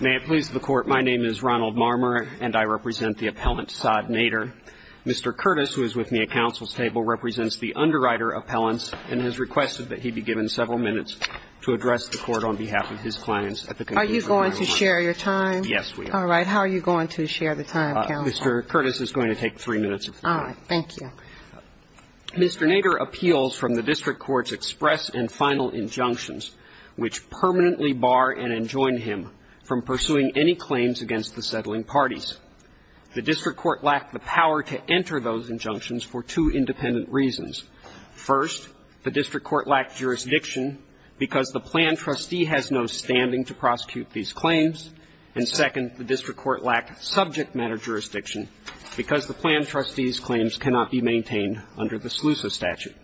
May it please the Court, my name is Ronald Marmer, and I represent the appellant Saad Nader. Mr. Curtis, who is with me at counsel's table, represents the underwriter appellants, and has requested that he be given several minutes to address the Court on behalf of his clients at the conclusion of my remarks. Are you going to share your time? Yes, we are. All right. How are you going to share the time, counsel? Mr. Curtis is going to take three minutes of your time. All right. Thank you. Mr. Nader appeals from the district court's express and final injunctions, which permanently bar and enjoin him from pursuing any claims against the settling parties. The district court lacked the power to enter those injunctions for two independent reasons. First, the district court lacked jurisdiction because the plan trustee has no standing to prosecute these claims. And second, the district court lacked subject matter jurisdiction because the plan trustee's claims cannot be maintained under the SLUSA statute.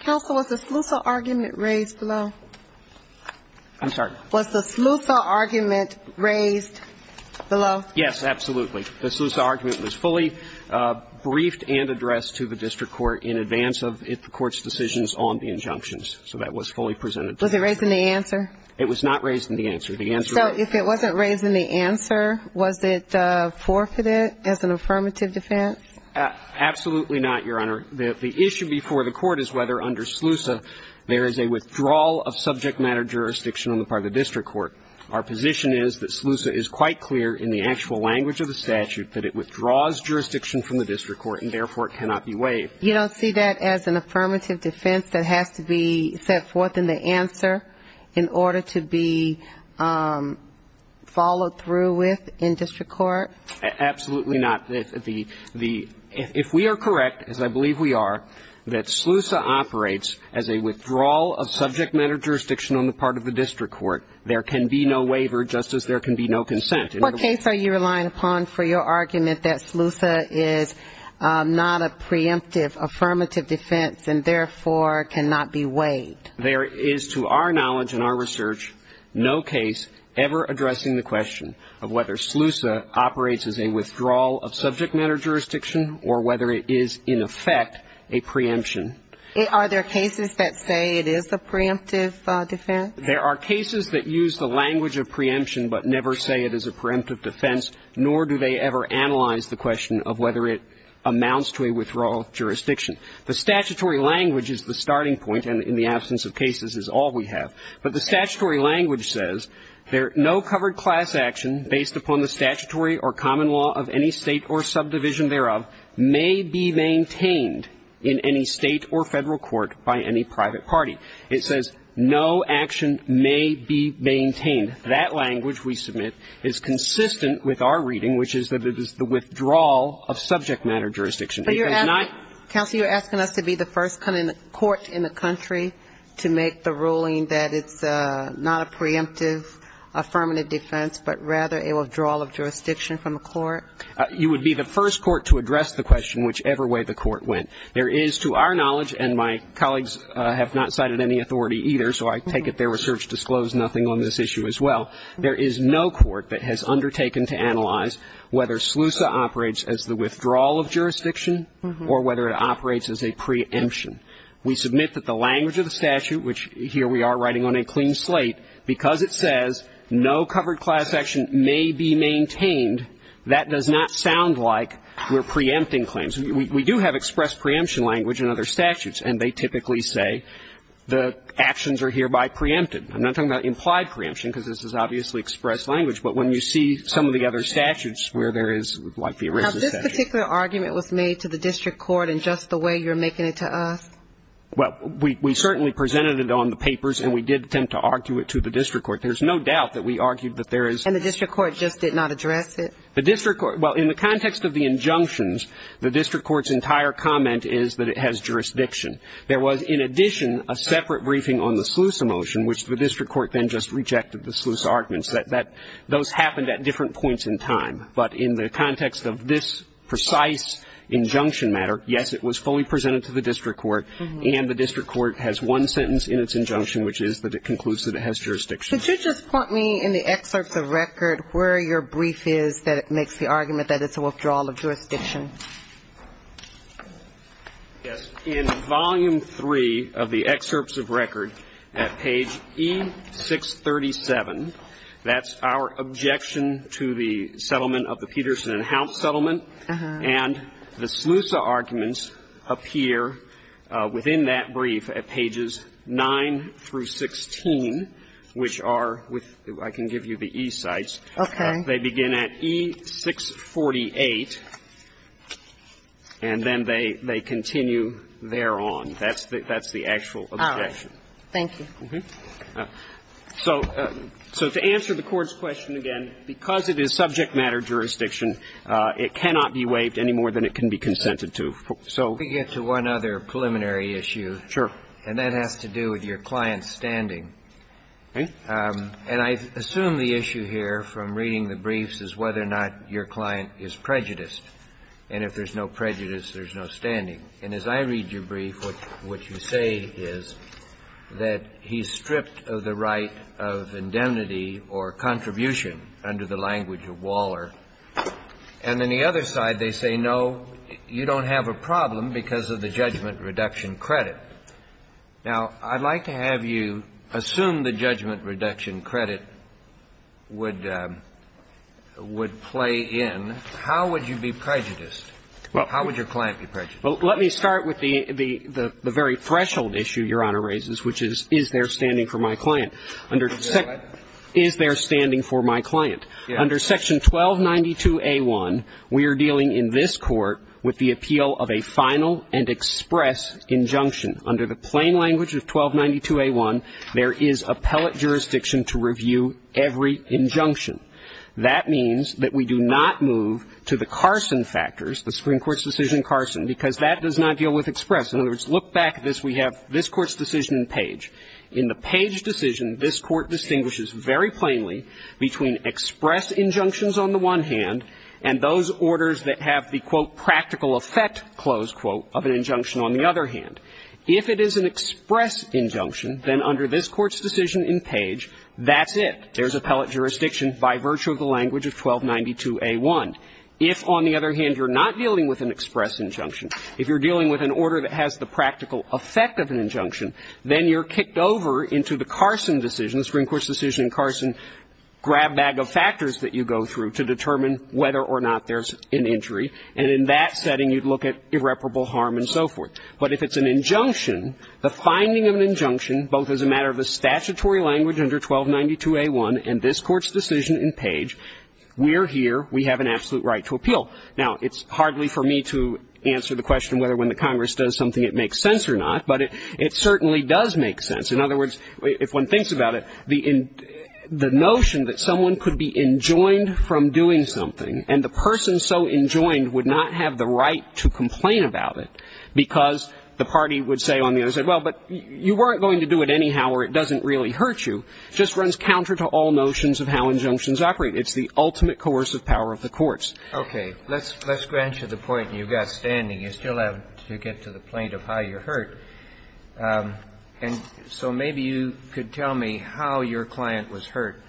Counsel, was the SLUSA argument raised below? I'm sorry? Was the SLUSA argument raised below? Yes, absolutely. The SLUSA argument was fully briefed and addressed to the district court in advance of the court's decisions on the injunctions. Was it raised in the answer? It was not raised in the answer. So if it wasn't raised in the answer, was it forfeited as an affirmative defense? Absolutely not, Your Honor. The issue before the court is whether under SLUSA there is a withdrawal of subject matter jurisdiction on the part of the district court. Our position is that SLUSA is quite clear in the actual language of the statute that it withdraws jurisdiction from the district court and therefore it cannot be waived. You don't see that as an affirmative defense that has to be set forth in the answer in order to be followed through with in district court? Absolutely not. If we are correct, as I believe we are, that SLUSA operates as a withdrawal of subject matter jurisdiction on the part of the district court, there can be no waiver just as there can be no consent. What case are you relying upon for your argument that SLUSA is not a preemptive affirmative defense and therefore cannot be waived? There is to our knowledge and our research no case ever addressing the question of whether SLUSA operates as a withdrawal of subject matter jurisdiction or whether it is in effect a preemption. Are there cases that say it is a preemptive defense? There are cases that use the language of preemption but never say it is a preemptive defense, nor do they ever analyze the question of whether it amounts to a withdrawal of jurisdiction. The statutory language is the starting point, and in the absence of cases is all we have. But the statutory language says no covered class action based upon the statutory or common law of any State or subdivision thereof may be maintained in any State or Federal court by any private party. It says no action may be maintained. That language we submit is consistent with our reading, which is that it is the withdrawal of subject matter jurisdiction. But you're asking, counsel, you're asking us to be the first court in the country to make the ruling that it's not a preemptive affirmative defense, but rather a withdrawal of jurisdiction from a court? You would be the first court to address the question whichever way the court went. There is, to our knowledge, and my colleagues have not cited any authority either, so I take it their research disclosed nothing on this issue as well. There is no court that has undertaken to analyze whether SLUSA operates as the withdrawal of jurisdiction or whether it operates as a preemption. We submit that the language of the statute, which here we are writing on a clean slate, because it says no covered class action may be maintained, that does not sound like we're preempting claims. We do have expressed preemption language in other statutes, and they typically say the actions are hereby preempted. I'm not talking about implied preemption, because this is obviously expressed language. But when you see some of the other statutes where there is like the original statute. Have this particular argument was made to the district court in just the way you're making it to us? Well, we certainly presented it on the papers, and we did attempt to argue it to the district court. There's no doubt that we argued that there is. And the district court just did not address it? Well, in the context of the injunctions, the district court's entire comment is that it has jurisdiction. There was, in addition, a separate briefing on the SLUSA motion, which the district court then just rejected the SLUSA arguments. Those happened at different points in time. But in the context of this precise injunction matter, yes, it was fully presented to the district court, and the district court has one sentence in its injunction, which is that it concludes that it has jurisdiction. Could you just point me in the excerpts of record where your brief is that makes the argument that it's a withdrawal of jurisdiction? Yes. In volume three of the excerpts of record at page E637, that's our objection to the settlement of the Peterson and Hount settlement, and the SLUSA arguments appear within that brief at pages 9 through 16, which are with the, I can give you the E sites. Okay. They begin at E648, and then they continue thereon. That's the actual objection. All right. Thank you. So to answer the Court's question again, because it is subject matter jurisdiction, it cannot be waived any more than it can be consented to. So we get to one other preliminary issue. Sure. And that has to do with your client's standing. Okay. And I assume the issue here from reading the briefs is whether or not your client is prejudiced. And if there's no prejudice, there's no standing. And as I read your brief, what you say is that he's stripped of the right of indemnity or contribution under the language of Waller. And on the other side, they say, no, you don't have a problem because of the judgment reduction credit. Now, I'd like to have you assume the judgment reduction credit would play in. How would you be prejudiced? How would your client be prejudiced? Well, let me start with the very threshold issue Your Honor raises, which is, is there standing for my client? Is there standing for my client? Under Section 1292a1, we are dealing in this Court with the appeal of a final and express injunction. Under the plain language of 1292a1, there is appellate jurisdiction to review every injunction. That means that we do not move to the Carson factors, the Supreme Court's decision in Carson, because that does not deal with express. In other words, look back at this. We have this Court's decision in Page. In the Page decision, this Court distinguishes very plainly between express injunctions on the one hand and those orders that have the, quote, practical effect, close quote, of an injunction on the other hand. If it is an express injunction, then under this Court's decision in Page, that's it. There's appellate jurisdiction by virtue of the language of 1292a1. If, on the other hand, you're not dealing with an express injunction, if you're not dealing with the practical effect of an injunction, then you're kicked over into the Carson decision, the Supreme Court's decision in Carson, grab bag of factors that you go through to determine whether or not there's an injury. And in that setting, you'd look at irreparable harm and so forth. But if it's an injunction, the finding of an injunction, both as a matter of a statutory language under 1292a1 and this Court's decision in Page, we are here, we have an absolute right to appeal. Now, it's hardly for me to answer the question whether when the Congress does something it makes sense or not, but it certainly does make sense. In other words, if one thinks about it, the notion that someone could be enjoined from doing something and the person so enjoined would not have the right to complain about it because the party would say on the other side, well, but you weren't going to do it anyhow or it doesn't really hurt you, just runs counter to all notions of how injunctions operate. It's the ultimate coercive power of the courts. Okay. Let's grant you the point you got standing. You still have to get to the point of how you're hurt. And so maybe you could tell me how your client was hurt.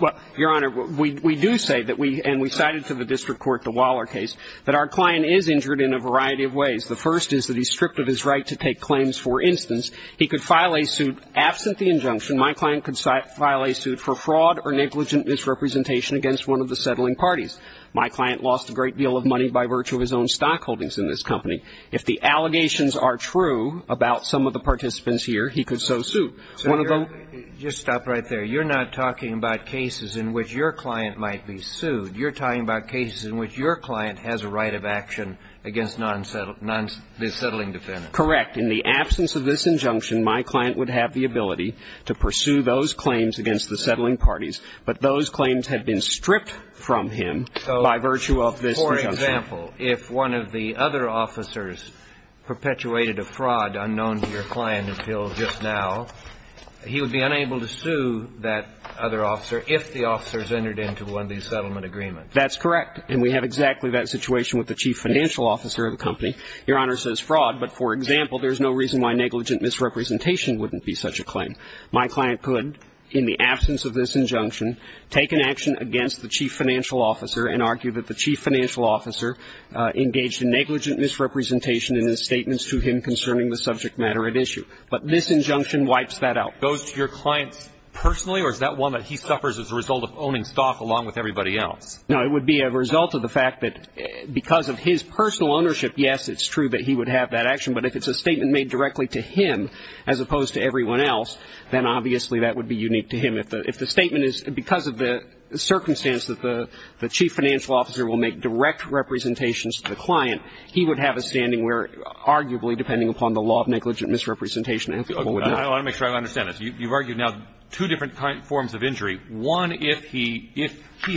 Well, Your Honor, we do say that we, and we cited to the district court the Waller case, that our client is injured in a variety of ways. The first is that he's stripped of his right to take claims. For instance, he could file a suit absent the injunction. My client could file a suit for fraud or negligent misrepresentation against one of the settling parties. My client lost a great deal of money by virtue of his own stockholdings in this company. If the allegations are true about some of the participants here, he could so suit. One of the ---- Just stop right there. You're not talking about cases in which your client might be sued. You're talking about cases in which your client has a right of action against non-settling defendants. Correct. In the absence of this injunction, my client would have the ability to pursue those claims against the settling parties. But those claims had been stripped from him by virtue of this injunction. So, for example, if one of the other officers perpetuated a fraud unknown to your client until just now, he would be unable to sue that other officer if the officers entered into one of these settlement agreements. That's correct. And we have exactly that situation with the chief financial officer of the company. Your Honor says fraud, but, for example, there's no reason why negligent misrepresentation wouldn't be such a claim. My client could, in the absence of this injunction, take an action against the chief financial officer and argue that the chief financial officer engaged in negligent misrepresentation in his statements to him concerning the subject matter at issue. But this injunction wipes that out. Goes to your client personally, or is that one that he suffers as a result of owning stock along with everybody else? No, it would be a result of the fact that because of his personal ownership, yes, it's true that he would have that action. But if it's a statement made directly to him as opposed to everyone else, then obviously that would be unique to him. If the statement is because of the circumstance that the chief financial officer will make direct representations to the client, he would have a standing where, arguably, depending upon the law of negligent misrepresentation, he would not. I want to make sure I understand this. You've argued now two different forms of injury. One, if he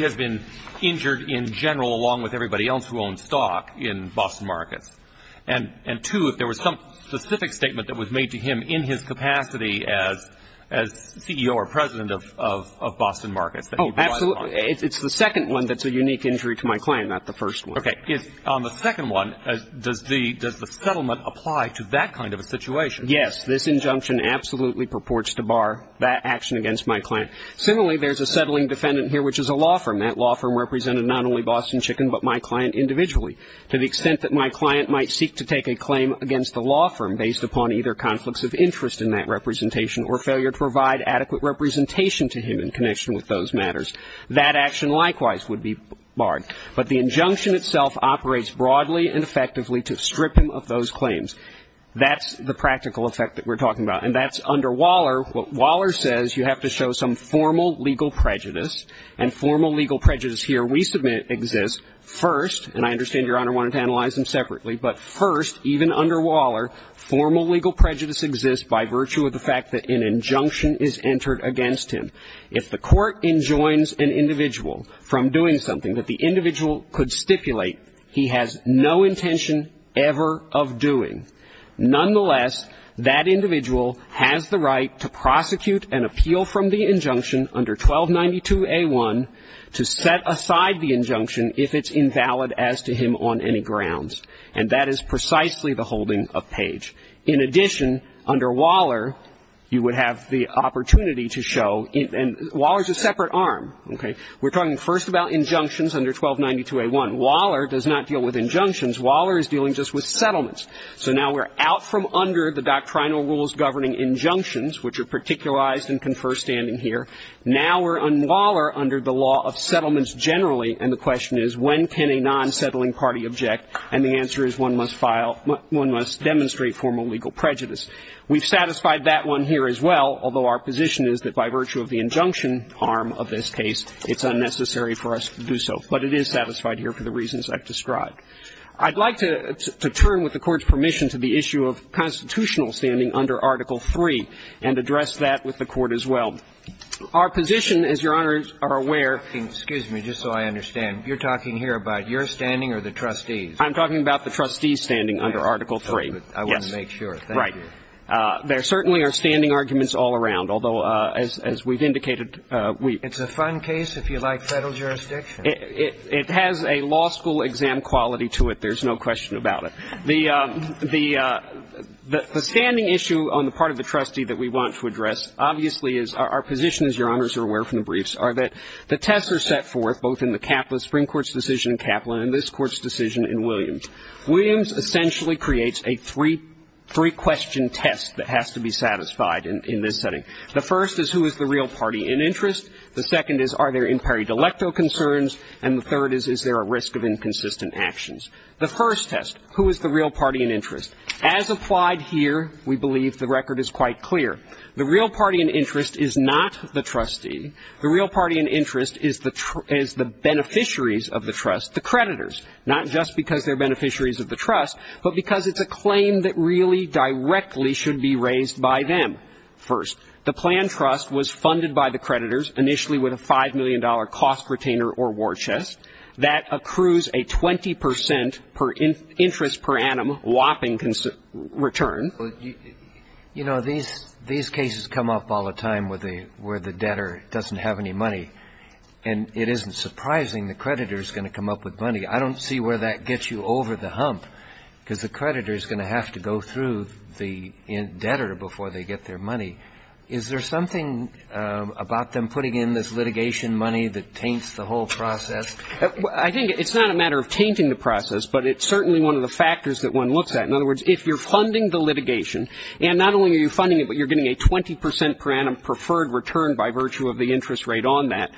has been injured in general along with everybody else who owns stock in Boston Markets, and two, if there was some specific statement that was made to him in his capacity as CEO or president of Boston Markets that he relies upon. Oh, absolutely. It's the second one that's a unique injury to my client, not the first one. Okay. On the second one, does the settlement apply to that kind of a situation? Yes. This injunction absolutely purports to bar that action against my client. Similarly, there's a settling defendant here, which is a law firm. That law firm represented not only Boston Chicken, but my client individually to the extent that my client might seek to take a claim against the law firm based upon either conflicts of interest in that representation or failure to provide adequate representation to him in connection with those matters. That action likewise would be barred. But the injunction itself operates broadly and effectively to strip him of those claims. That's the practical effect that we're talking about. And that's under Waller. What Waller says, you have to show some formal legal prejudice, and formal legal prejudice here we submit exists first, and I understand, Your Honor, wanted to analyze them separately, but first, even under Waller, formal legal prejudice exists by virtue of the fact that an injunction is entered against him. If the court enjoins an individual from doing something that the individual could stipulate, he has no intention ever of doing. Nonetheless, that individual has the right to prosecute an appeal from the injunction under 1292A1 to set aside the injunction if it's invalid as to him on any grounds. And that is precisely the holding of Page. In addition, under Waller, you would have the opportunity to show, and Waller is a separate arm. Okay? We're talking first about injunctions under 1292A1. Waller does not deal with injunctions. Waller is dealing just with settlements. So now we're out from under the doctrinal rules governing injunctions, which are particularized and confer standing here. Now we're under Waller under the law of settlements generally, and the question is when can a non-settling party object? And the answer is one must file one must demonstrate formal legal prejudice. We've satisfied that one here as well, although our position is that by virtue of the injunction arm of this case, it's unnecessary for us to do so. But it is satisfied here for the reasons I've described. I'd like to turn, with the Court's permission, to the issue of constitutional standing under Article III and address that with the Court as well. Our position, as Your Honors are aware of the Standing Excuse me, just so I understand. You're talking here about your standing or the trustees? I'm talking about the trustees' standing under Article III. I want to make sure. Thank you. Right. There certainly are standing arguments all around, although, as we've indicated, we It's a fun case if you like Federal jurisdiction. It has a law school exam quality to it. There's no question about it. The standing issue on the part of the trustee that we want to address, obviously, is our position, as Your Honors are aware from the briefs, are that the tests are set forth both in the Kaplan, the Supreme Court's decision in Kaplan, and this Court's decision in Williams. Williams essentially creates a three-question test that has to be satisfied in this setting. The first is, who is the real party in interest? The second is, are there in-party delecto concerns? And the third is, is there a risk of inconsistent actions? The first test, who is the real party in interest? As applied here, we believe the record is quite clear. The real party in interest is not the trustee. The real party in interest is the beneficiaries of the trust, the creditors, not just because they're beneficiaries of the trust, but because it's a claim that really directly should be raised by them. First, the planned trust was funded by the creditors, initially with a $5 million cost retainer or war chest. That accrues a 20 percent per interest per annum whopping return. Well, you know, these cases come up all the time where the debtor doesn't have any money. And it isn't surprising the creditor is going to come up with money. I don't see where that gets you over the hump, because the creditor is going to have to go through the debtor before they get their money. Is there something about them putting in this litigation money that taints the whole process? I think it's not a matter of tainting the process, but it's certainly one of the factors that one looks at. In other words, if you're funding the litigation, and not only are you funding it, but you're getting a 20 percent per annum preferred return by virtue of the interest rate on that,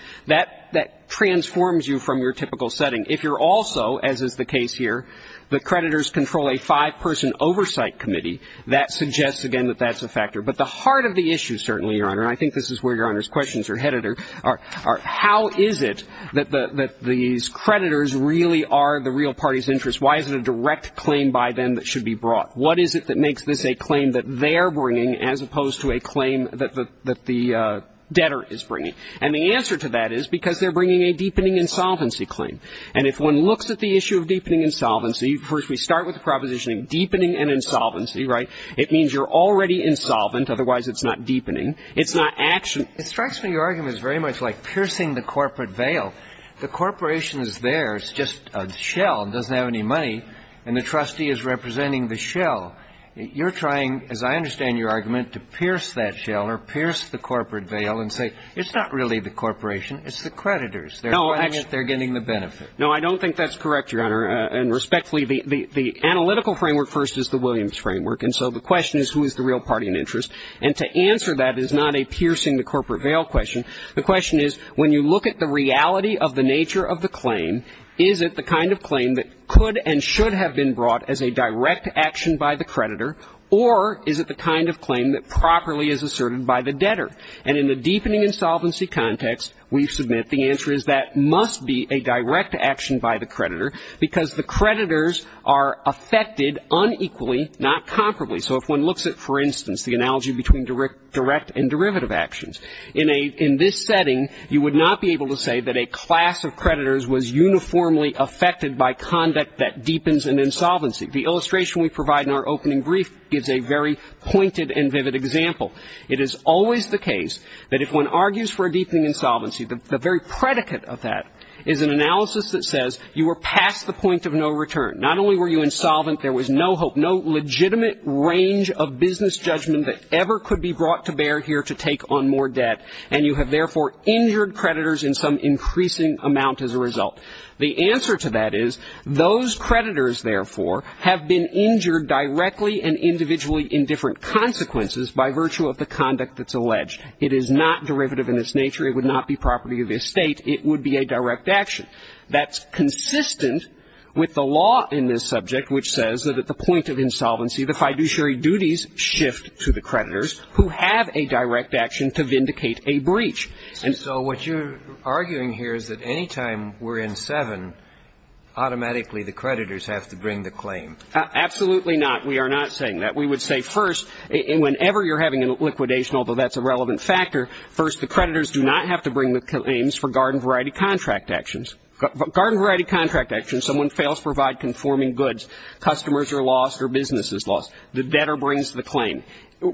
that transforms you from your typical setting. If you're also, as is the case here, the creditors control a five-person oversight committee, that suggests, again, that that's a factor. But the heart of the issue certainly, Your Honor, and I think this is where Your Honor's questions are headed, are how is it that these creditors really are the real party's interest? Why is it a direct claim by them that should be brought? What is it that makes this a claim that they're bringing as opposed to a claim that the debtor is bringing? And the answer to that is because they're bringing a deepening insolvency claim. And if one looks at the issue of deepening insolvency, first we start with the proposition of deepening and insolvency, right? And then we start with the proposition of deepening and insolvency. And that is a very simple argument. Otherwise, it's not deepening. It's not action. It strikes me your argument is very much like piercing the corporate veil. The corporation is there. It's just a shell. It doesn't have any money. And the trustee is representing the shell. You're trying, as I understand your argument, to pierce that shell or pierce the corporate veil and say it's not really the corporation. It's the creditors. They're getting the benefit. No, I don't think that's correct, Your Honor. And respectfully, the analytical framework first is the Williams framework. And so the question is, who is the real party in interest? And to answer that is not a piercing the corporate veil question. The question is, when you look at the reality of the nature of the claim, is it the kind of claim that could and should have been brought as a direct action by the creditor, or is it the kind of claim that properly is asserted by the debtor? And in the deepening insolvency context, we submit the answer is that must be a direct action by the creditor because the creditors are affected unequally, not comparably. So if one looks at, for instance, the analogy between direct and derivative actions, in this setting, you would not be able to say that a class of creditors was uniformly affected by conduct that deepens an insolvency. The illustration we provide in our opening brief gives a very pointed and vivid example. It is always the case that if one argues for a deepening insolvency, the very predicate of that is an analysis that says you were past the point of no return. Not only were you insolvent, there was no hope, no legitimate range of business judgment that ever could be brought to bear here to take on more debt, and you have, therefore, injured creditors in some increasing amount as a result. The answer to that is those creditors, therefore, have been injured directly and individually in different consequences by virtue of the conduct that's alleged. It is not derivative in its nature. It would not be property of the estate. It would be a direct action. That's consistent with the law in this subject which says that at the point of insolvency, the fiduciary duties shift to the creditors who have a direct action to vindicate a breach. And so what you're arguing here is that any time we're in 7, automatically the creditors have to bring the claim. Absolutely not. We are not saying that. We would say first whenever you're having a liquidation, although that's a relevant factor, first the creditors do not have to bring the claims for garden variety contract actions. Garden variety contract actions, someone fails to provide conforming goods, customers are lost or business is lost. The debtor brings the claim.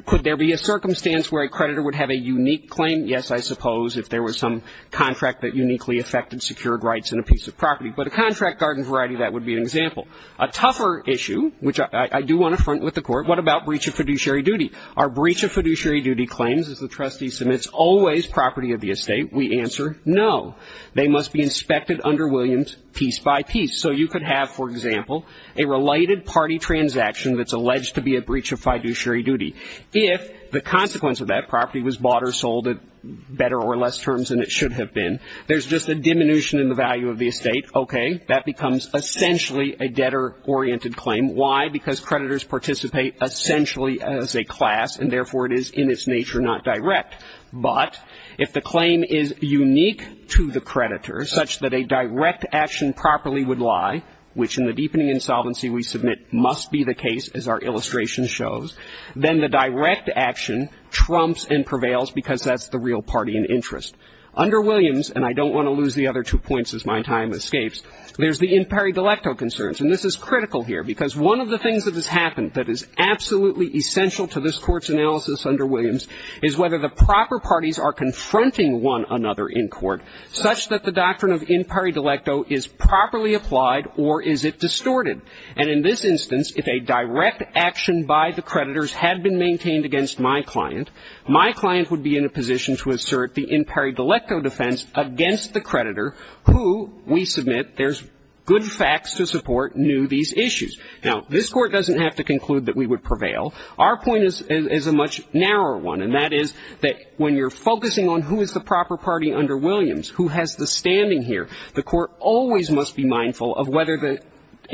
Could there be a circumstance where a creditor would have a unique claim? Yes, I suppose, if there was some contract that uniquely affected secured rights in a piece of property. But a contract garden variety, that would be an example. A tougher issue, which I do want to front with the court, what about breach of fiduciary duty? Our breach of fiduciary duty claims is the trustee submits always property of the estate. We answer no. They must be inspected under Williams piece by piece. So you could have, for example, a related party transaction that's alleged to be a breach of fiduciary duty. If the consequence of that property was bought or sold at better or less terms than it should have been, there's just a diminution in the value of the estate. Okay. That becomes essentially a debtor-oriented claim. Why? Because creditors participate essentially as a class and, therefore, it is in its nature not direct. But if the claim is unique to the creditor, such that a direct action properly would lie, which in the deepening insolvency we submit must be the case, as our illustration shows, then the direct action trumps and prevails because that's the real party in interest. Under Williams, and I don't want to lose the other two points as my time escapes, there's the imperi delecto concerns. And this is critical here because one of the things that has happened that is absolutely essential to this Court's analysis under Williams is whether the proper parties are confronting one another in court such that the doctrine of imperi delecto is properly applied or is it distorted. And in this instance, if a direct action by the creditors had been maintained against my client, my client would be in a position to assert the imperi delecto defense against the creditor who we submit there's good facts to support new these issues. Now, this Court doesn't have to conclude that we would prevail. Our point is a much narrower one, and that is that when you're focusing on who is the proper party under Williams, who has the standing here, the Court always must be mindful of whether the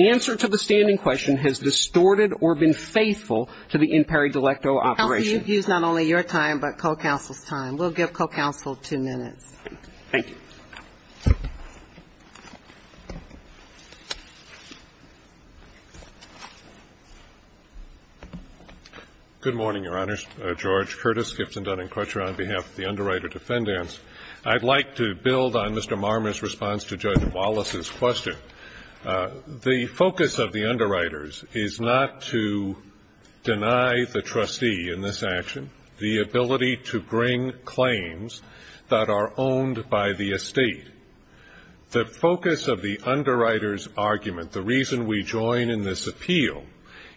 answer to the standing question has distorted or been faithful to the imperi delecto operation. Counsel, you've used not only your time, but co-counsel's time. We'll give co-counsel two minutes. Thank you. Good morning, Your Honors. George Curtis, Gibson Dunning Crutcher on behalf of the Underwriter Defendants. I'd like to build on Mr. Marmer's response to Judge Wallace's question. The focus of the underwriters is not to deny the trustee in this action the ability to bring claims that are owned by the estate. The focus of the underwriters' argument, the reason we join in this appeal,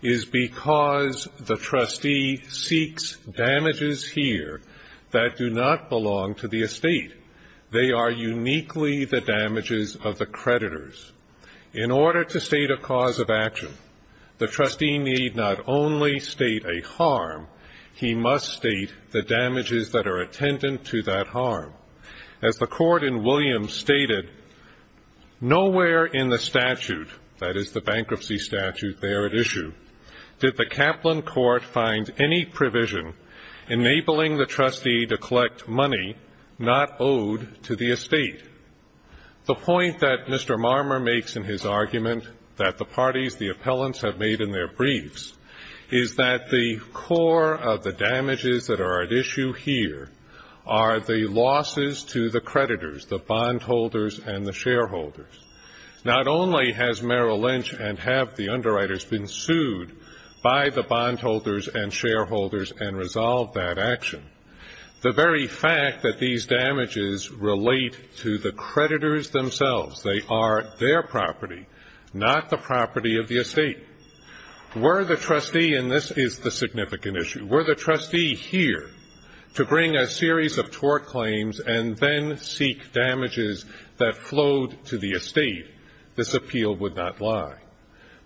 is because the trustee seeks damages here that do not belong to the estate. They are uniquely the damages of the creditors. In order to state a cause of action, the trustee need not only state a harm, he must state the damages that are attendant to that harm. As the Court in Williams stated, nowhere in the statute, that is the bankruptcy statute there at issue, did the Kaplan Court find any provision enabling the estate. The point that Mr. Marmer makes in his argument that the parties, the appellants, have made in their briefs is that the core of the damages that are at issue here are the losses to the creditors, the bondholders and the shareholders. Not only has Merrill Lynch and have the underwriters been sued by the bondholders and shareholders and resolved that action, the very fact that these damages relate to the creditors themselves, they are their property, not the property of the estate. Were the trustee, and this is the significant issue, were the trustee here to bring a series of tort claims and then seek damages that flowed to the estate, this appeal would not lie.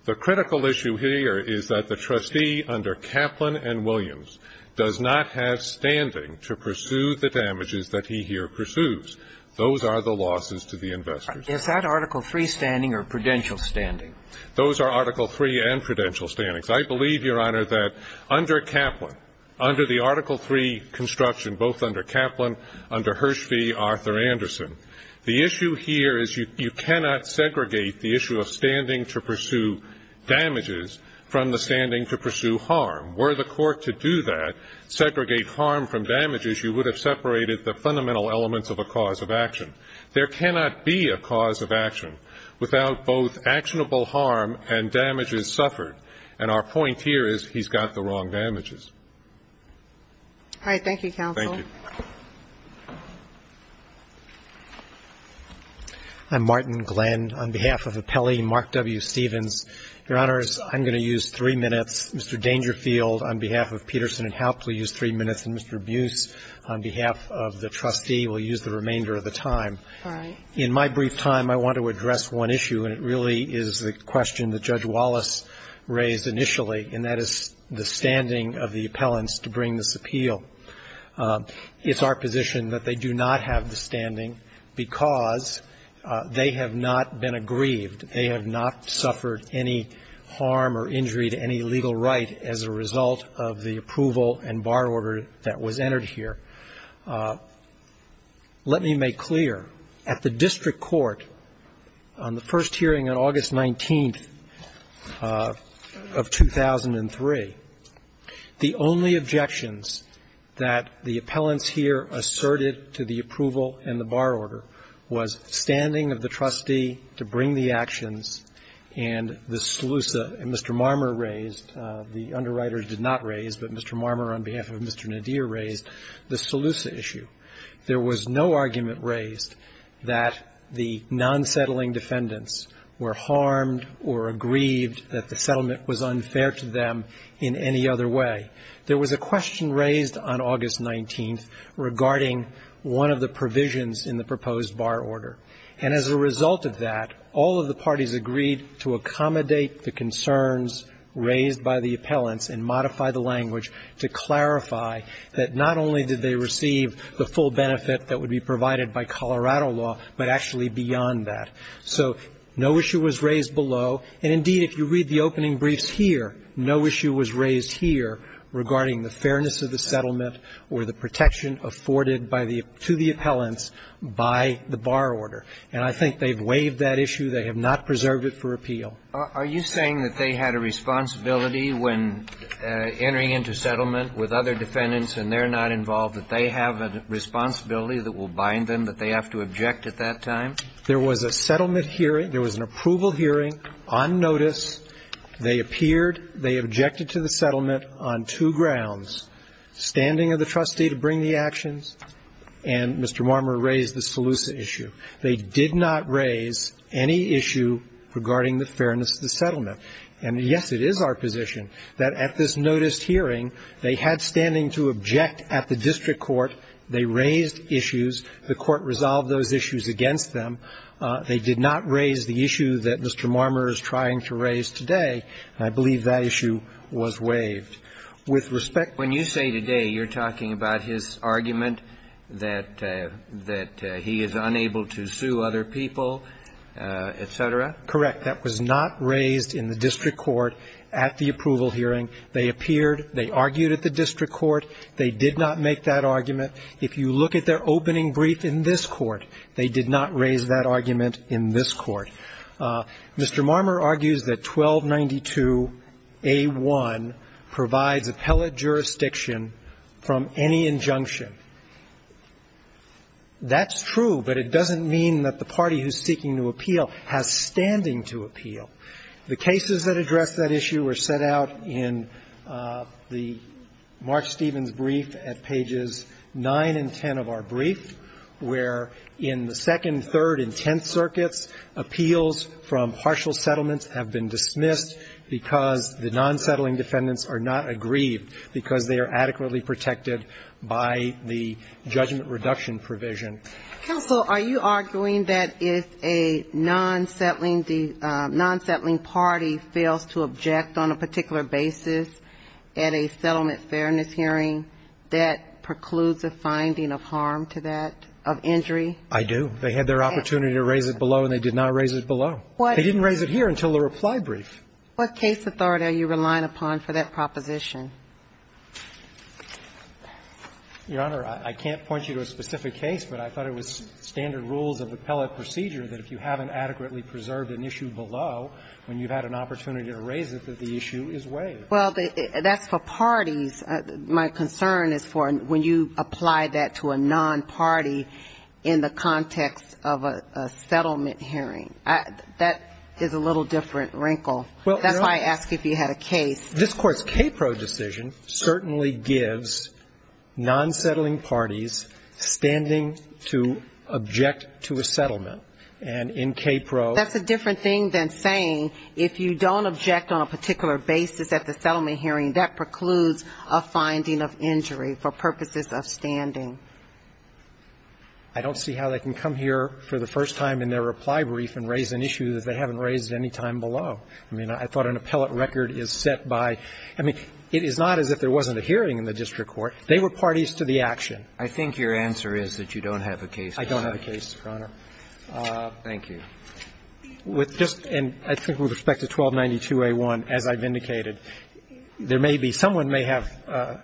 The critical issue here is that the trustee under Kaplan and Williams does not have standing to pursue the damages that he here pursues. Those are the losses to the investors. Is that Article III standing or prudential standing? Those are Article III and prudential standings. I believe, Your Honor, that under Kaplan, under the Article III construction, both under Kaplan, under Hirsch v. Arthur Anderson, the issue here is you cannot segregate the issue of standing to pursue damages from the standing to pursue harm. Were the court to do that, segregate harm from damages, you would have separated the fundamental elements of a cause of action. There cannot be a cause of action without both actionable harm and damages suffered, and our point here is he's got the wrong damages. All right. Thank you, counsel. Thank you. I'm Martin Glenn. On behalf of Appellee Mark W. Stevens, Your Honors, I'm going to use three minutes. Mr. Dangerfield, on behalf of Peterson and Haupt, will use three minutes, and Mr. Buse, on behalf of the trustee, will use the remainder of the time. All right. In my brief time, I want to address one issue, and it really is the question that Judge Wallace raised initially, and that is the standing of the appellants to bring this appeal. It's our position that they do not have the standing because they have not been aggrieved. They have not suffered any harm or injury to any legal right as a result of the approval and bar order that was entered here. Let me make clear. At the district court, on the first hearing on August 19th of 2003, the only objection that the appellants here asserted to the approval and the bar order was standing of the trustee to bring the actions and the solution. And Mr. Marmer raised, the underwriter did not raise, but Mr. Marmer on behalf of Mr. Nadir raised, the solution issue. There was no argument raised that the non-settling defendants were harmed or aggrieved that the settlement was unfair to them in any other way. There was a question raised on August 19th regarding one of the provisions in the proposed bar order. And as a result of that, all of the parties agreed to accommodate the concerns raised by the appellants and modify the language to clarify that not only did they receive the full benefit that would be provided by Colorado law, but actually beyond that. So no issue was raised below. And indeed, if you read the opening briefs here, no issue was raised here regarding the fairness of the settlement or the protection afforded by the to the appellants by the bar order. And I think they've waived that issue. They have not preserved it for appeal. Kennedy. Are you saying that they had a responsibility when entering into settlement with other defendants and they're not involved, that they have a responsibility that will bind them, that they have to object at that time? There was a settlement hearing. There was an approval hearing on notice. They appeared. They objected to the settlement on two grounds, standing of the trustee to bring the actions. And Mr. Marmer raised the SELUSA issue. They did not raise any issue regarding the fairness of the settlement. And, yes, it is our position that at this noticed hearing they had standing to object at the district court. They raised issues. The court resolved those issues against them. They did not raise the issue that Mr. Marmer is trying to raise today. And I believe that issue was waived. With respect to the other issues. When you say today you're talking about his argument that he is unable to sue other people, et cetera? Correct. That was not raised in the district court at the approval hearing. They appeared. They argued at the district court. They did not make that argument. If you look at their opening brief in this court, they did not raise that argument in this court. Mr. Marmer argues that 1292a1 provides appellate jurisdiction from any injunction. That's true, but it doesn't mean that the party who is seeking to appeal has standing to appeal. The cases that address that issue were set out in the Mark Stevens brief at pages 9 and 10 of our brief, where in the second, third and tenth circuits, appeals from partial settlements have been dismissed because the non-settling defendants are not aggrieved because they are adequately protected by the judgment reduction provision. Counsel, are you arguing that if a non-settling party fails to object on a particular basis at a settlement fairness hearing, that precludes a finding of harm to that, of injury? I do. They had their opportunity to raise it below, and they did not raise it below. They didn't raise it here until the reply brief. What case authority are you relying upon for that proposition? Your Honor, I can't point you to a specific case, but I thought it was standard rules of appellate procedure that if you haven't adequately preserved an issue below, when you've had an opportunity to raise it, that the issue is waived. Well, that's for parties. My concern is for when you apply that to a non-party in the context of a settlement hearing. That is a little different wrinkle. That's why I asked if you had a case. This Court's KPRO decision certainly gives non-settling parties standing to object to a settlement. And in KPRO ---- That's a different thing than saying if you don't object on a particular basis at the settlement hearing, that precludes a finding of injury for purposes of standing. I don't see how they can come here for the first time in their reply brief and raise an issue that they haven't raised any time below. I mean, I thought an appellate record is set by ---- I mean, it is not as if there wasn't a hearing in the district court. They were parties to the action. I think your answer is that you don't have a case to cite. I don't have a case, Your Honor. Thank you. With just ---- and I think with respect to 1292a1, as I've indicated, there may be ---- someone may have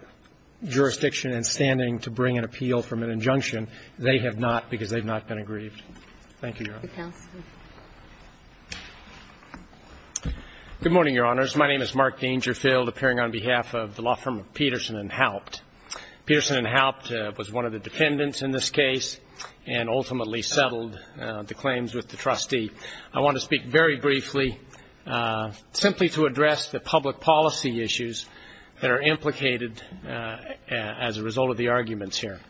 jurisdiction and standing to bring an appeal from an injunction. Thank you, Your Honor. Thank you, counsel. Good morning, Your Honors. My name is Mark Dangerfield, appearing on behalf of the law firm of Peterson & Haupt. Peterson & Haupt was one of the defendants in this case and ultimately settled the claims with the trustee. I want to speak very briefly simply to address the public policy issues that are implicated as a result of the arguments here.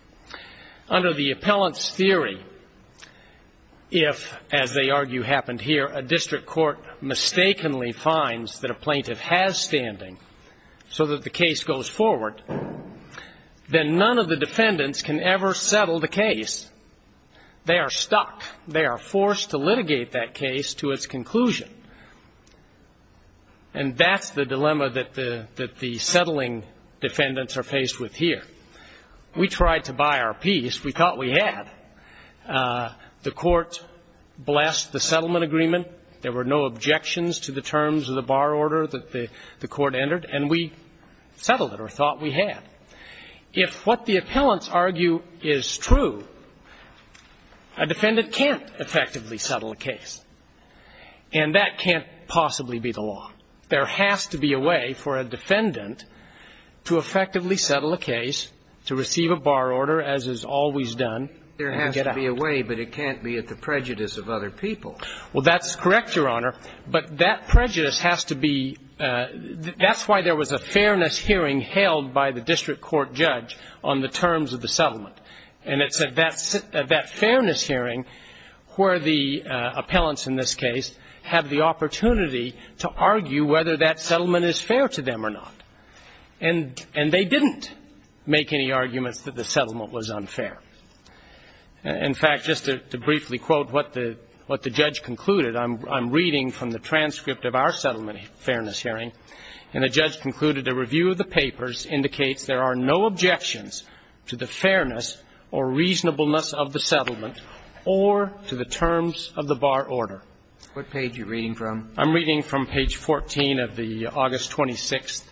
Under the appellant's theory, if, as they argue happened here, a district court mistakenly finds that a plaintiff has standing so that the case goes forward, then none of the defendants can ever settle the case. They are stuck. They are forced to litigate that case to its conclusion. And that's the dilemma that the settling defendants are faced with here. We tried to buy our peace. We thought we had. The Court blessed the settlement agreement. There were no objections to the terms of the bar order that the Court entered, and we settled it, or thought we had. If what the appellants argue is true, a defendant can't effectively settle a case, and that can't possibly be the law. There has to be a way for a defendant to effectively settle a case, to receive a bar order, as is always done. There has to be a way, but it can't be at the prejudice of other people. Well, that's correct, Your Honor. But that prejudice has to be – that's why there was a fairness hearing held by the district court judge on the terms of the settlement. And it's at that fairness hearing where the appellants in this case have the opportunity to argue whether that settlement is fair to them or not. And they didn't make any arguments that the settlement was unfair. In fact, just to briefly quote what the judge concluded, I'm reading from the transcript of our settlement fairness hearing, and the judge concluded, A review of the papers indicates there are no objections to the fairness or reasonableness of the settlement or to the terms of the bar order. What page are you reading from? I'm reading from page 14 of the August 26th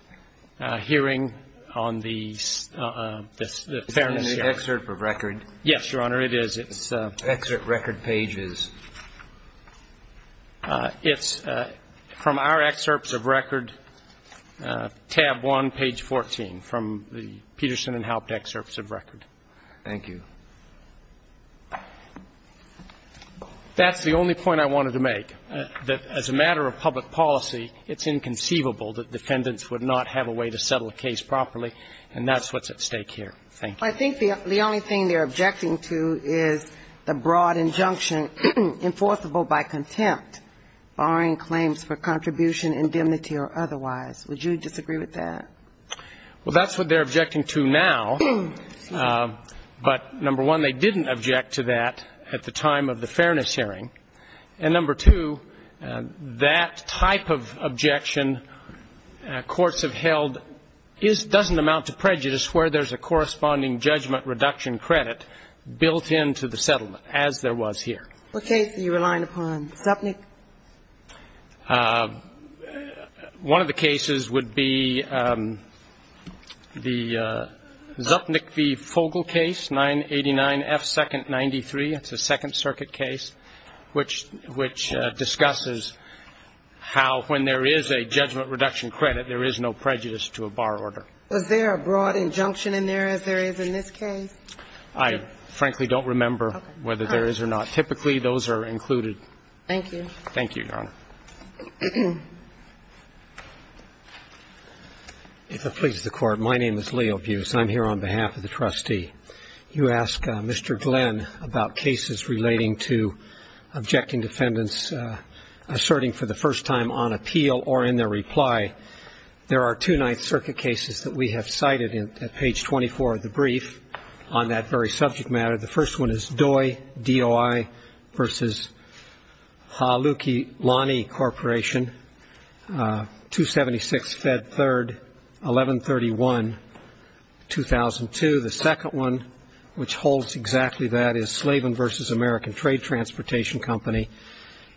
hearing on the fairness hearing. It's an excerpt of record. Yes, Your Honor, it is. It's excerpt record pages. It's from our excerpts of record, tab 1, page 14, from the Peterson and Haupt excerpts of record. Thank you. That's the only point I wanted to make, that as a matter of public policy, it's inconceivable that defendants would not have a way to settle a case properly, and that's what's at stake here. Thank you. I think the only thing they're objecting to is the broad injunction enforceable by contempt, barring claims for contribution, indemnity or otherwise. Would you disagree with that? Well, that's what they're objecting to now. But, number one, they didn't object to that at the time of the fairness hearing. And, number two, that type of objection courts have held doesn't amount to prejudice where there's a corresponding judgment reduction credit built into the settlement, as there was here. What case are you relying upon? Zupnik? One of the cases would be the Zupnik v. Fogel case, 989F2-93. It's a Second Circuit case which discusses how, when there is a judgment reduction credit, there is no prejudice to a bar order. Was there a broad injunction in there, as there is in this case? I frankly don't remember whether there is or not. Typically, those are included. Thank you. Thank you, Your Honor. If it pleases the Court, my name is Leo Buse. I'm here on behalf of the trustee. You ask Mr. Glenn about cases relating to objecting defendants asserting for the first time on appeal or in their reply. There are two Ninth Circuit cases that we have cited at page 24 of the brief on that very subject matter. The first one is Doi, D-O-I, v. Haluki Lani Corporation, 276F3-1131-2002. The second one, which holds exactly that, is Slavin v. American Trade Transportation Company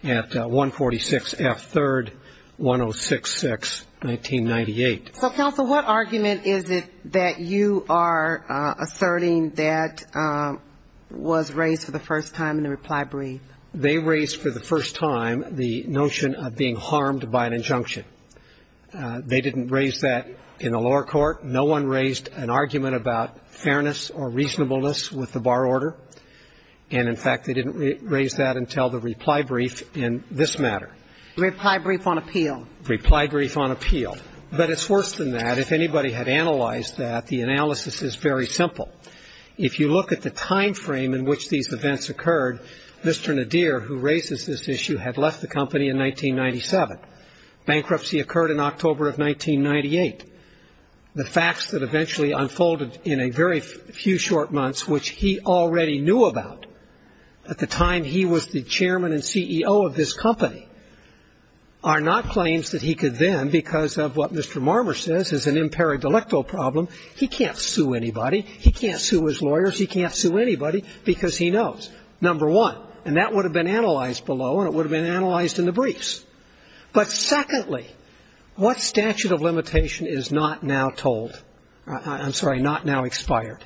at 146F3-1066-1998. So, counsel, what argument is it that you are asserting that was raised for the first time in the reply brief? They raised for the first time the notion of being harmed by an injunction. They didn't raise that in the lower court. No one raised an argument about fairness or reasonableness with the bar order. And, in fact, they didn't raise that until the reply brief in this matter. Reply brief on appeal. Reply brief on appeal. But it's worse than that. If anybody had analyzed that, the analysis is very simple. If you look at the time frame in which these events occurred, Mr. Nadir, who raises this issue, had left the company in 1997. Bankruptcy occurred in October of 1998. The facts that eventually unfolded in a very few short months, which he already knew about at the time he was the chairman and CEO of this company, are not claims that he could then, because of what Mr. Marmer says is an imperi delicto problem, he can't sue anybody, he can't sue his lawyers, he can't sue anybody because he knows, number one. And that would have been analyzed below and it would have been analyzed in the briefs. But, secondly, what statute of limitation is not now told or, I'm sorry, not now expired?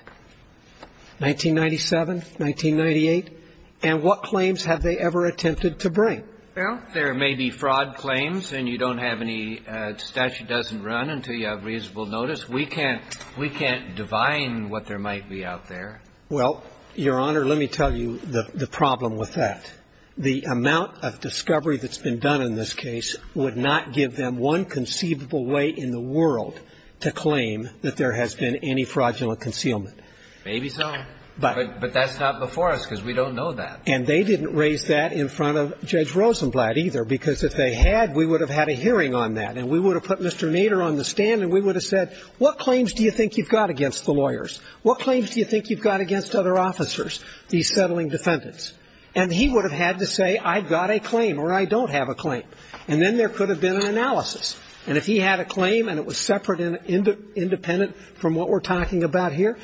1997, 1998? And what claims have they ever attempted to bring? Well, there may be fraud claims and you don't have any statute doesn't run until you have reasonable notice. We can't – we can't divine what there might be out there. Well, Your Honor, let me tell you the problem with that. The amount of discovery that's been done in this case would not give them one conceivable way in the world to claim that there has been any fraudulent concealment. Maybe so, but that's not before us because we don't know that. And they didn't raise that in front of Judge Rosenblatt either because if they had, we would have had a hearing on that and we would have put Mr. Nader on the stand and we would have said, what claims do you think you've got against the lawyers? What claims do you think you've got against other officers, these settling defendants? And he would have had to say, I've got a claim or I don't have a claim. And then there could have been an analysis. And if he had a claim and it was separate and independent from what we're talking about here,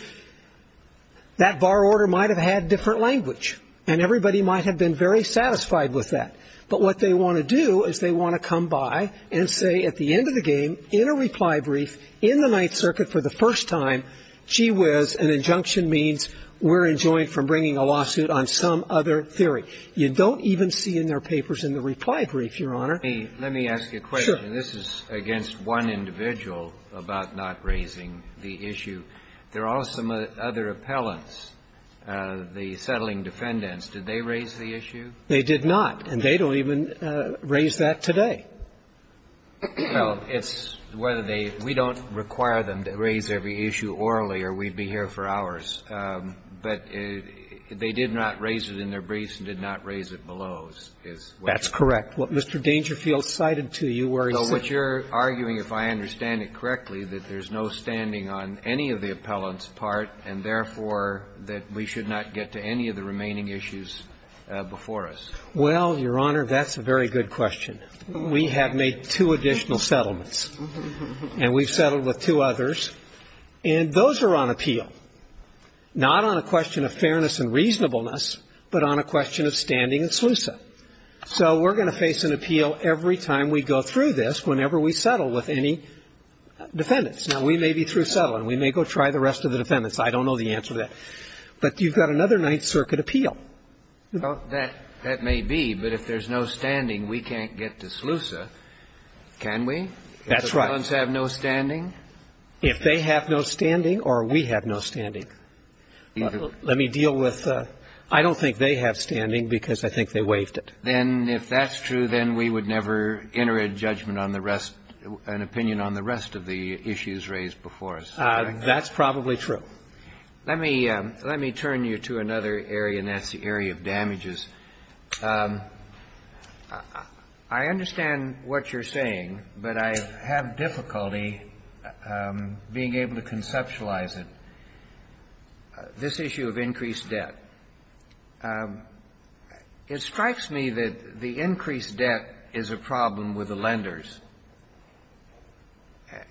that bar order might have had different language and everybody might have been very satisfied with that. But what they want to do is they want to come by and say at the end of the game, in a reply brief, in the Ninth Circuit for the first time, gee whiz, an injunction means we're enjoined from bringing a lawsuit on some other theory. You don't even see in their papers in the reply brief, Your Honor. Kennedy, let me ask you a question. This is against one individual about not raising the issue. There are some other appellants, the settling defendants. Did they raise the issue? They did not. And they don't even raise that today. Well, it's whether they – we don't require them to raise every issue orally or we'd be here for hours. But they did not raise it in their briefs and did not raise it below. That's correct. What Mr. Dangerfield cited to you where he said – So what you're arguing, if I understand it correctly, that there's no standing on any of the appellant's part and, therefore, that we should not get to any of the remaining issues before us. Well, Your Honor, that's a very good question. We have made two additional settlements. And we've settled with two others. And those are on appeal, not on a question of fairness and reasonableness, but on a question of standing and SLUSA. So we're going to face an appeal every time we go through this whenever we settle with any defendants. Now, we may be through settling. We may go try the rest of the defendants. I don't know the answer to that. But you've got another Ninth Circuit appeal. Well, that may be. But if there's no standing, we can't get to SLUSA, can we? That's right. If the defendants have no standing? If they have no standing or we have no standing. Let me deal with – I don't think they have standing because I think they waived it. Then if that's true, then we would never enter a judgment on the rest – an opinion on the rest of the issues raised before us. That's probably true. Let me turn you to another area, and that's the area of damages. I understand what you're saying, but I have difficulty being able to conceptualize it. This issue of increased debt. It strikes me that the increased debt is a problem with the lenders.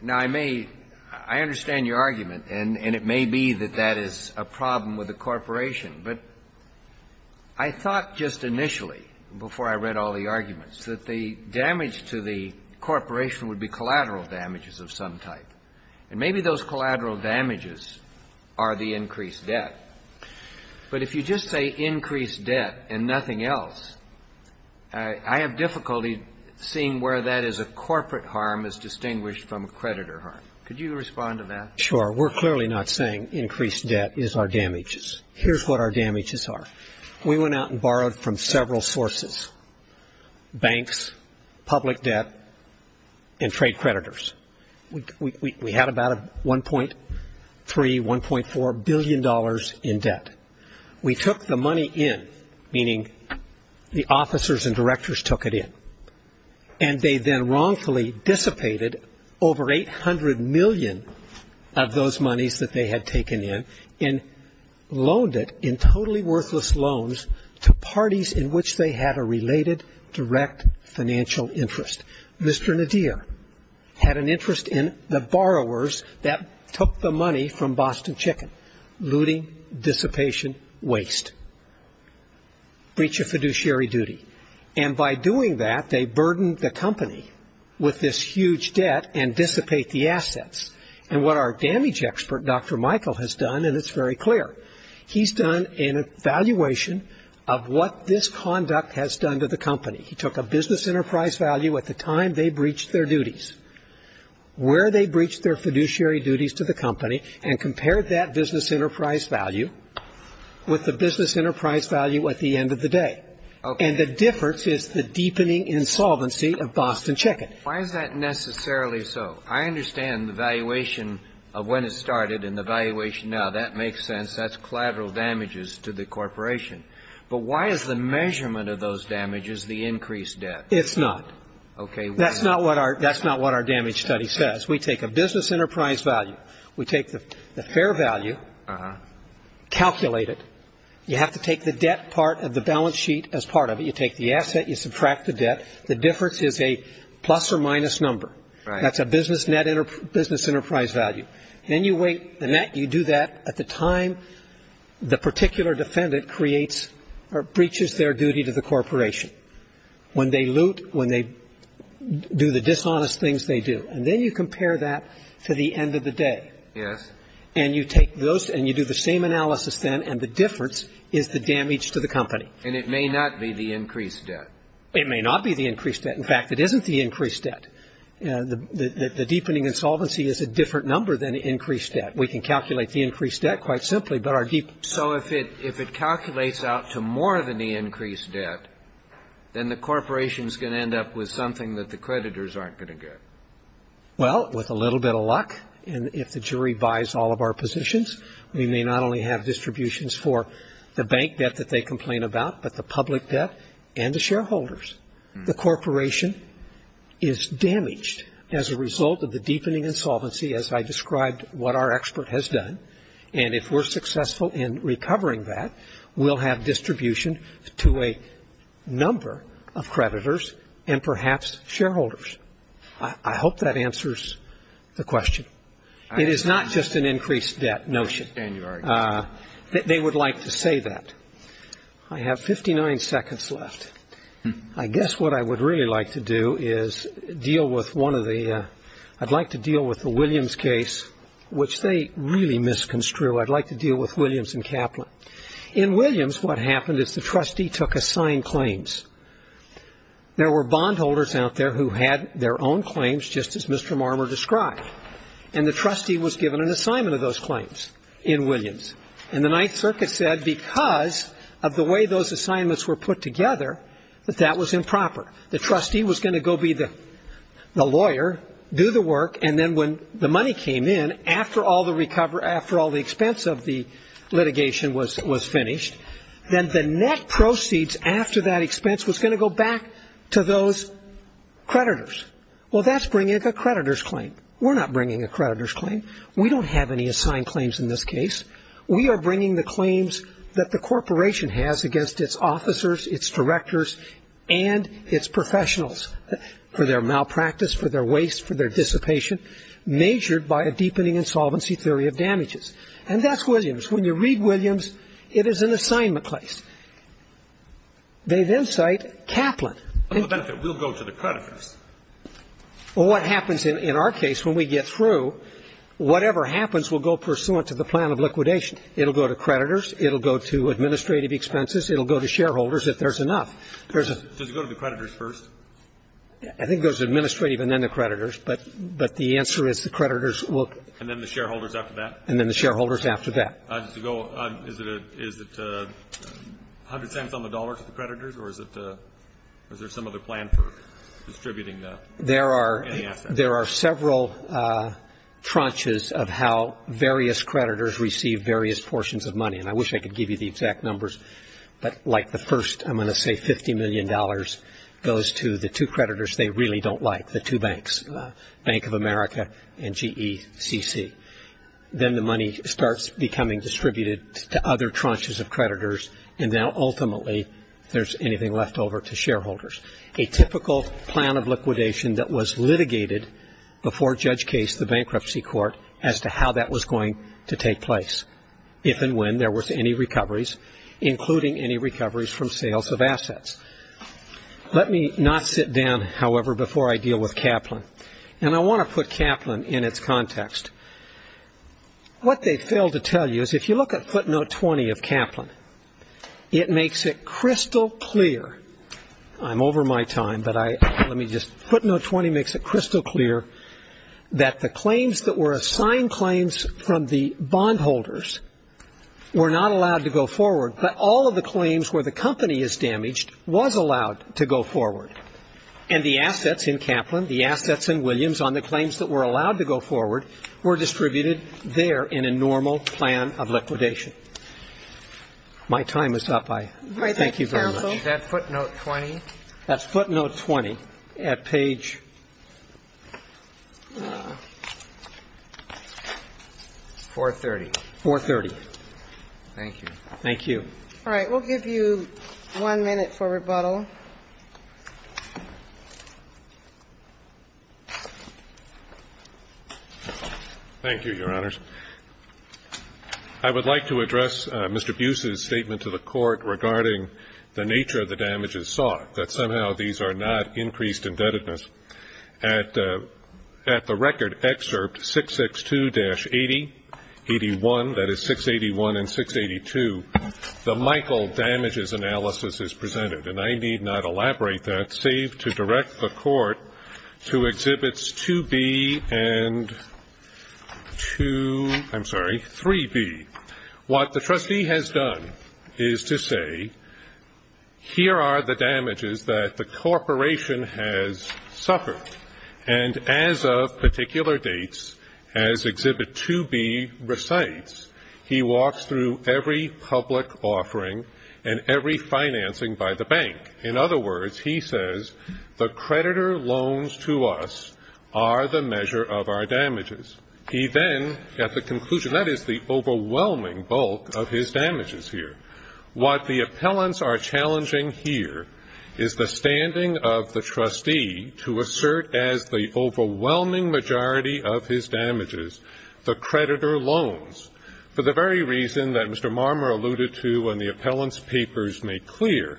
Now, I may – I understand your argument, and it may be that that is a problem with the corporation. But I thought just initially, before I read all the arguments, that the damage to the corporation would be collateral damages of some type. And maybe those collateral damages are the increased debt. But if you just say increased debt and nothing else, I have difficulty seeing where that is a corporate harm as distinguished from a creditor harm. Could you respond to that? Sure. We're clearly not saying increased debt is our damages. Here's what our damages are. We went out and borrowed from several sources – banks, public debt, and trade creditors. We had about $1.3, $1.4 billion in debt. We took the money in, meaning the officers and directors took it in. And they then wrongfully dissipated over $800 million of those monies that they had taken in and loaned it in totally worthless loans to parties in which they had a related direct financial interest. Mr. Nadir had an interest in the borrowers that took the money from Boston Chicken, looting, dissipation, waste, breach of fiduciary duty. And by doing that, they burdened the company with this huge debt and dissipate the assets. And what our damage expert, Dr. Michael, has done – and it's very clear – he's done an evaluation of what this conduct has done to the company. He took a business enterprise value at the time they breached their duties, where they breached their fiduciary duties to the company, and compared that business enterprise value with the business enterprise value at the end of the day. And the difference is the deepening insolvency of Boston Chicken. Why is that necessarily so? I understand the valuation of when it started and the valuation now. That makes sense. That's collateral damages to the corporation. But why is the measurement of those damages the increased debt? It's not. Okay. That's not what our damage study says. We take a business enterprise value. We take the fair value, calculate it. You have to take the debt part of the balance sheet as part of it. You take the asset. You subtract the debt. The difference is a plus or minus number. Right. That's a business enterprise value. And you weigh the net. You do that at the time the particular defendant creates or breaches their duty to the corporation, when they loot, when they do the dishonest things they do. And then you compare that to the end of the day. Yes. And you take those and you do the same analysis then, and the difference is the damage to the company. And it may not be the increased debt. It may not be the increased debt. In fact, it isn't the increased debt. The deepening insolvency is a different number than the increased debt. We can calculate the increased debt quite simply. So if it calculates out to more than the increased debt, then the corporation is going to end up with something that the creditors aren't going to get. Well, with a little bit of luck, and if the jury buys all of our positions, we may not only have distributions for the bank debt that they complain about, but the public debt and the shareholders. The corporation is damaged as a result of the deepening insolvency, as I described what our expert has done. And if we're successful in recovering that, we'll have distribution to a number of creditors and perhaps shareholders. I hope that answers the question. It is not just an increased debt notion. I understand your argument. They would like to say that. I have 59 seconds left. I guess what I would really like to do is deal with one of the ñ I'd like to deal with the Williams case, which they really misconstrued. I'd like to deal with Williams and Kaplan. In Williams, what happened is the trustee took assigned claims. There were bondholders out there who had their own claims, just as Mr. Marmer described, and the trustee was given an assignment of those claims in Williams. And the Ninth Circuit said because of the way those assignments were put together that that was improper. The trustee was going to go be the lawyer, do the work, and then when the money came in after all the expense of the litigation was finished, then the net proceeds after that expense was going to go back to those creditors. Well, that's bringing a creditor's claim. We're not bringing a creditor's claim. We don't have any assigned claims in this case. We are bringing the claims that the corporation has against its officers, its directors, and its professionals for their malpractice, for their waste, for their dissipation, measured by a deepening insolvency theory of damages. And that's Williams. When you read Williams, it is an assignment case. They then cite Kaplan. We'll go to the creditors. Well, what happens in our case when we get through, whatever happens will go pursuant to the plan of liquidation. It will go to creditors. It will go to administrative expenses. It will go to shareholders if there's enough. There's a ---- Does it go to the creditors first? I think it goes to administrative and then the creditors. But the answer is the creditors will ---- And then the shareholders after that? And then the shareholders after that. Is it a hundred cents on the dollar to the creditors? Or is there some other plan for distributing the assets? There are several tranches of how various creditors receive various portions of money, and I wish I could give you the exact numbers, but like the first I'm going to say $50 million goes to the two creditors they really don't like, the two banks, Bank of America and GECC. Then the money starts becoming distributed to other tranches of creditors, and now ultimately there's anything left over to shareholders. A typical plan of liquidation that was litigated before Judge Case, the bankruptcy court, as to how that was going to take place, if and when there was any recoveries, including any recoveries from sales of assets. Let me not sit down, however, before I deal with Kaplan, and I want to put Kaplan in its context. What they fail to tell you is if you look at footnote 20 of Kaplan, it makes it crystal clear. I'm over my time, but let me just, footnote 20 makes it crystal clear that the claims that were assigned claims from the bondholders were not allowed to go forward, but all of the claims where the company is damaged was allowed to go forward, and the assets in Kaplan, the assets in Williams on the claims that were allowed to go forward were distributed there in a normal plan of liquidation. My time is up. Thank you very much. Is that footnote 20? That's footnote 20 at page 430. 430. Thank you. Thank you. All right. We'll give you one minute for rebuttal. Thank you, Your Honors. I would like to address Mr. Buse's statement to the Court regarding the nature of the damages sought, that somehow these are not increased indebtedness. At the record excerpt 662-80, 81, that is 681 and 682, the Michael damages analysis is presented, and I need not elaborate that save to direct the Court to Exhibits 2B and 2, I'm sorry, 3B. What the trustee has done is to say here are the damages that the corporation has suffered, and as of particular dates, as Exhibit 2B recites, he walks through every public offering and every financing by the bank. In other words, he says the creditor loans to us are the measure of our damages. He then, at the conclusion, that is the overwhelming bulk of his damages here, what the appellants are challenging here is the standing of the trustee to assert as the overwhelming majority of his damages the creditor loans for the very reason that Mr. Marmer alluded to when the appellants' papers made clear.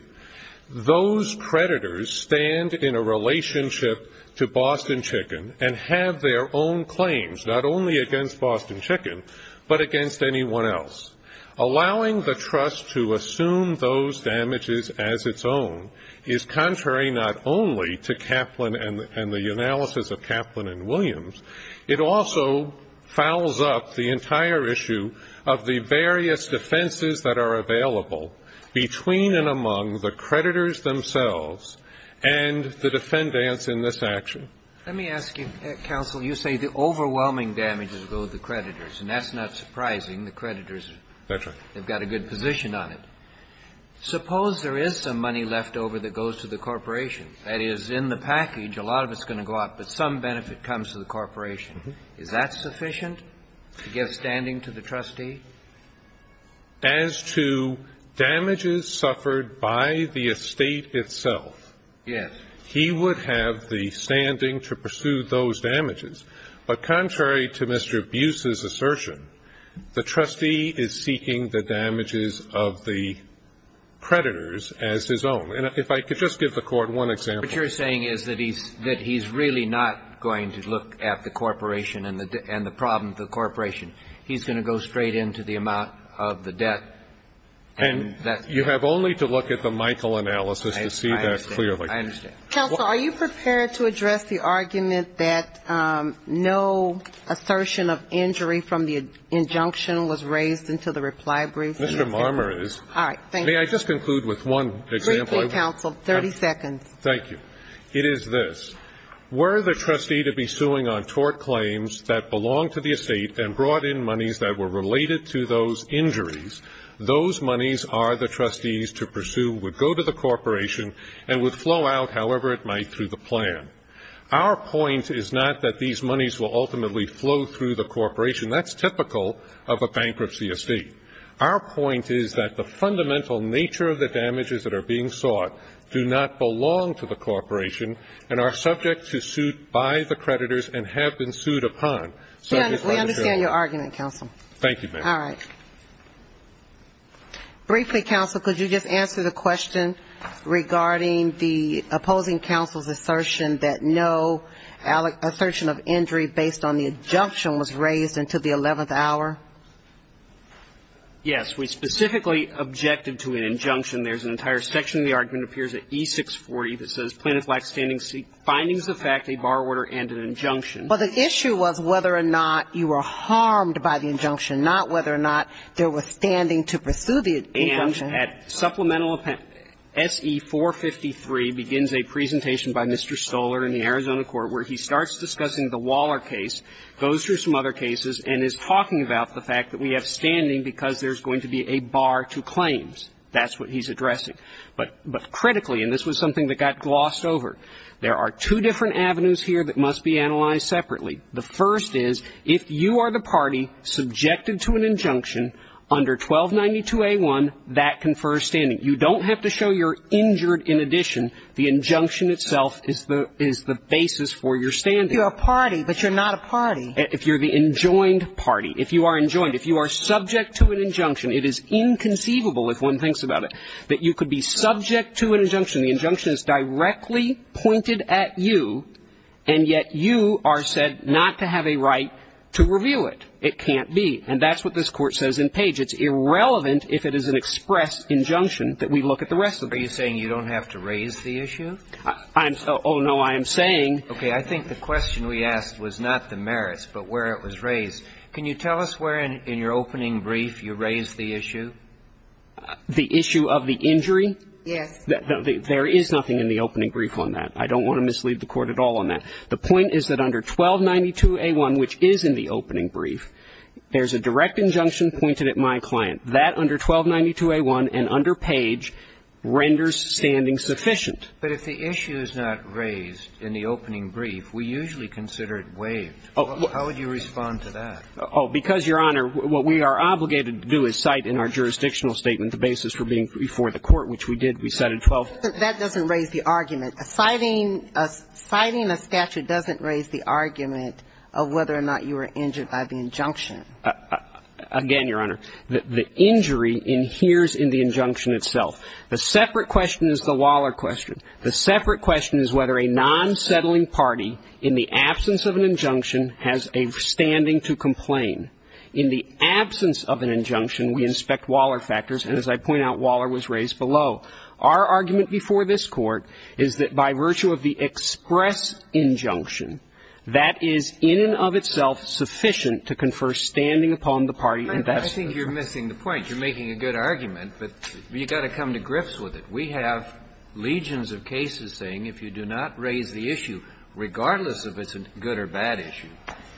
Those creditors stand in a relationship to Boston Chicken and have their own claims, not only against Boston Chicken, but against anyone else. Allowing the trust to assume those damages as its own is contrary not only to Kaplan and the analysis of Kaplan and Williams, it also fouls up the entire issue of the various defenses that are available between and among the creditors themselves and the defendants in this action. Let me ask you, counsel, you say the overwhelming damages go to the creditors, and that's not surprising. The creditors have got a good position on it. Suppose there is some money left over that goes to the corporation. That is, in the package, a lot of it's going to go out, but some benefit comes to the corporation. Is that sufficient to give standing to the trustee? As to damages suffered by the estate itself, he would have the standing to pursue those damages. But contrary to Mr. Buse's assertion, the trustee is seeking the damages of the creditors as his own. And if I could just give the Court one example. What you're saying is that he's really not going to look at the corporation and the problems of the corporation. He's going to go straight into the amount of the debt. And you have only to look at the Michael analysis to see that clearly. I understand. Counsel, are you prepared to address the argument that no assertion of injury from the injunction was raised until the reply brief? Mr. Marmer is. All right. Thank you. May I just conclude with one example? Briefly, Counsel. 30 seconds. Thank you. It is this. Were the trustee to be suing on tort claims that belonged to the estate and brought in monies that were related to those injuries, those monies are the trustees to pursue, would go to the corporation, and would flow out however it might through the plan. Our point is not that these monies will ultimately flow through the corporation. That's typical of a bankruptcy estate. Our point is that the fundamental nature of the damages that are being sought do not belong to the corporation and are subject to suit by the creditors and have been sued upon. We understand your argument, Counsel. Thank you, ma'am. All right. Briefly, Counsel, could you just answer the question regarding the opposing counsel's assertion that no assertion of injury based on the injunction was raised until the 11th hour? Yes. We specifically objected to an injunction. There's an entire section of the argument appears at E640 that says, Plaintiff lacks standing to seek findings of fact, a bar order, and an injunction. Well, the issue was whether or not you were harmed by the injunction, not whether or not there was standing to pursue the injunction. And at supplemental S.E. 453 begins a presentation by Mr. Stoler in the Arizona Court where he starts discussing the Waller case, goes through some other cases, and is talking about the fact that we have standing because there's going to be a bar to claims. That's what he's addressing. But critically, and this was something that got glossed over, there are two different avenues here that must be analyzed separately. The first is if you are the party subjected to an injunction under 1292A1, that confers standing. You don't have to show you're injured in addition. The injunction itself is the basis for your standing. You're a party, but you're not a party. If you're the enjoined party, if you are enjoined, if you are subject to an injunction, it is inconceivable, if one thinks about it, that you could be subject to an injunction. The injunction is directly pointed at you, and yet you are said not to have a right to reveal it. It can't be. And that's what this Court says in Page. It's irrelevant if it is an express injunction that we look at the rest of it. Are you saying you don't have to raise the issue? Oh, no. I am saying. Okay. I think the question we asked was not the merits, but where it was raised. Can you tell us where in your opening brief you raised the issue? The issue of the injury? Yes. There is nothing in the opening brief on that. I don't want to mislead the Court at all on that. The point is that under 1292A1, which is in the opening brief, there's a direct injunction pointed at my client. That under 1292A1 and under Page renders standing sufficient. But if the issue is not raised in the opening brief, we usually consider it waived. How would you respond to that? Oh, because, Your Honor, what we are obligated to do is cite in our jurisdictional statement the basis for being before the Court, which we did. We cited 1292A1. That doesn't raise the argument. Citing a statute doesn't raise the argument of whether or not you were injured by the injunction. Again, Your Honor, the injury adheres in the injunction itself. The separate question is the Waller question. The separate question is whether a non-settling party in the absence of an injunction has a standing to complain. In the absence of an injunction, we inspect Waller factors. And as I point out, Waller was raised below. Our argument before this Court is that by virtue of the express injunction, that is in and of itself sufficient to confer standing upon the party and that's sufficient. I think you're missing the point. You're making a good argument, but you've got to come to grips with it. We have legions of cases saying if you do not raise the issue, regardless of if it's a good or bad issue,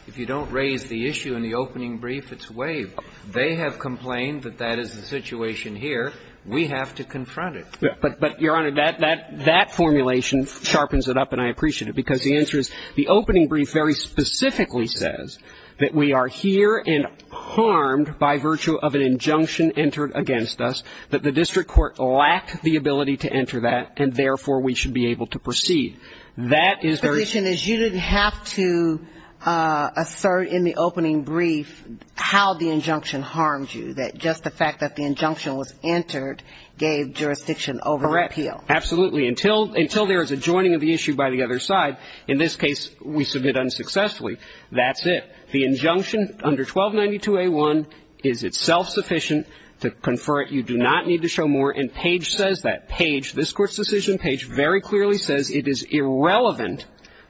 if you don't raise the issue in the opening brief, it's waived. They have complained that that is the situation here. We have to confront it. But, Your Honor, that formulation sharpens it up, and I appreciate it, because the answer is the opening brief very specifically says that we are here and harmed by virtue of an injunction entered against us, that the district court lacked the ability to enter that, and, therefore, we should be able to proceed. That is very ---- The position is you didn't have to assert in the opening brief how the injunction harmed you, that just the fact that the injunction was entered gave jurisdiction over the appeal. Correct. Absolutely. Until there is a joining of the issue by the other side, in this case we submit unsuccessfully, that's it. The injunction under 1292a1 is itself sufficient to confer it. You do not need to show more. And Page says that. Page, this Court's decision, Page very clearly says it is irrelevant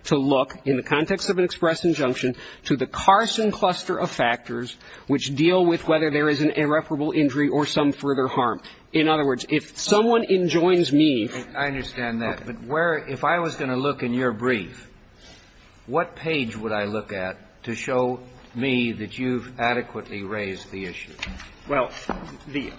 to look, in the context of an express injunction, to the Carson cluster of factors which deal with whether there is an irreparable injury or some further harm. In other words, if someone enjoins me ---- I understand that. But where ---- if I was going to look in your brief, what page would I look at to show me that you've adequately raised the issue? Well, the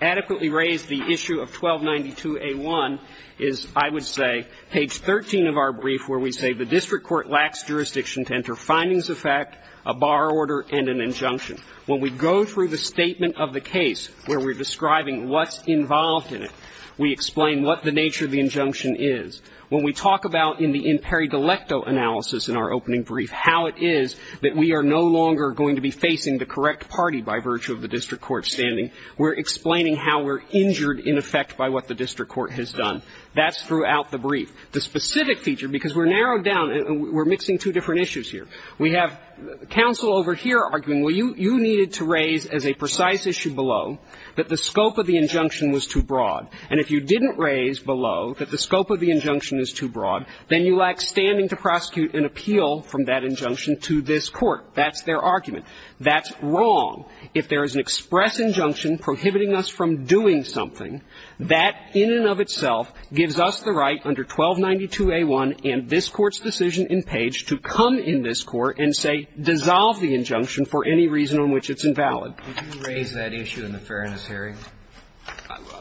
adequately raised the issue of 1292a1 is, I would say, page 13 of our brief where we say the district court lacks jurisdiction to enter findings of fact, a bar order, and an injunction. When we go through the statement of the case where we're describing what's involved in it, we explain what the nature of the injunction is. When we talk about in the imperi delecto analysis in our opening brief how it is that we are no longer going to be facing the correct party by virtue of the district court standing, we're explaining how we're injured in effect by what the district court has done. That's throughout the brief. The specific feature, because we're narrowed down and we're mixing two different issues here. We have counsel over here arguing, well, you needed to raise as a precise issue below that the scope of the injunction was too broad. And if you didn't raise below that the scope of the injunction is too broad, then you lack standing to prosecute an appeal from that injunction to this Court. That's their argument. That's wrong. If there is an express injunction prohibiting us from doing something, that in and of itself gives us the right under 1292a1 and this Court's decision in page to come in this Court and say dissolve the injunction for any reason on which it's invalid. Did you raise that issue in the Fairness hearing?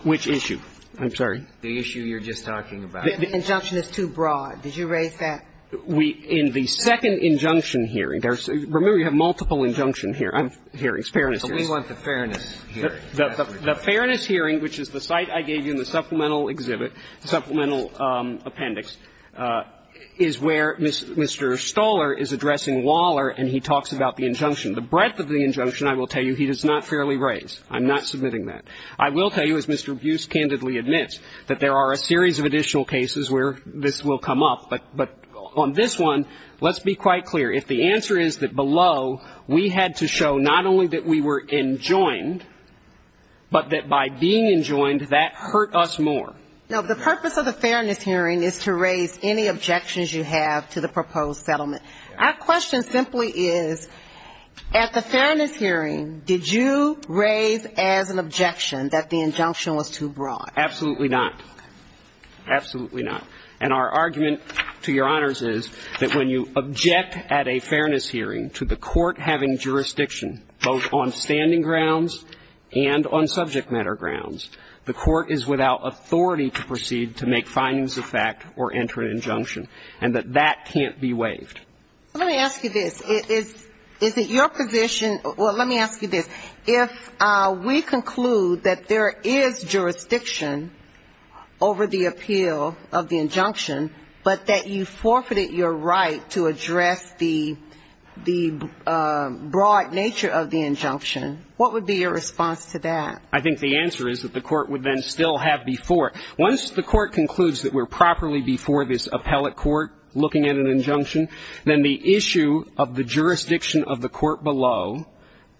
Which issue? I'm sorry. The issue you're just talking about. The injunction is too broad. Did you raise that? We – in the second injunction hearing, there's – remember, you have multiple injunction hearings, Fairness hearings. But we want the Fairness hearing. The Fairness hearing, which is the site I gave you in the supplemental exhibit, the injunction. The breadth of the injunction, I will tell you, he does not fairly raise. I'm not submitting that. I will tell you, as Mr. Buse candidly admits, that there are a series of additional cases where this will come up. But on this one, let's be quite clear. If the answer is that below, we had to show not only that we were enjoined, but that by being enjoined, that hurt us more. No. The purpose of the Fairness hearing is to raise any objections you have to the proposed settlement. Our question simply is, at the Fairness hearing, did you raise as an objection that the injunction was too broad? Absolutely not. Absolutely not. And our argument to Your Honors is that when you object at a Fairness hearing to the court having jurisdiction both on standing grounds and on subject matter grounds, the court is without authority to proceed to make findings of fact or enter an injunction, and that that can't be waived. Let me ask you this. Is it your position or let me ask you this. If we conclude that there is jurisdiction over the appeal of the injunction, but that you forfeited your right to address the broad nature of the injunction, what would be your response to that? I think the answer is that the court would then still have before. Once the court concludes that we're properly before this appellate court looking at an injunction, then the issue of the jurisdiction of the court below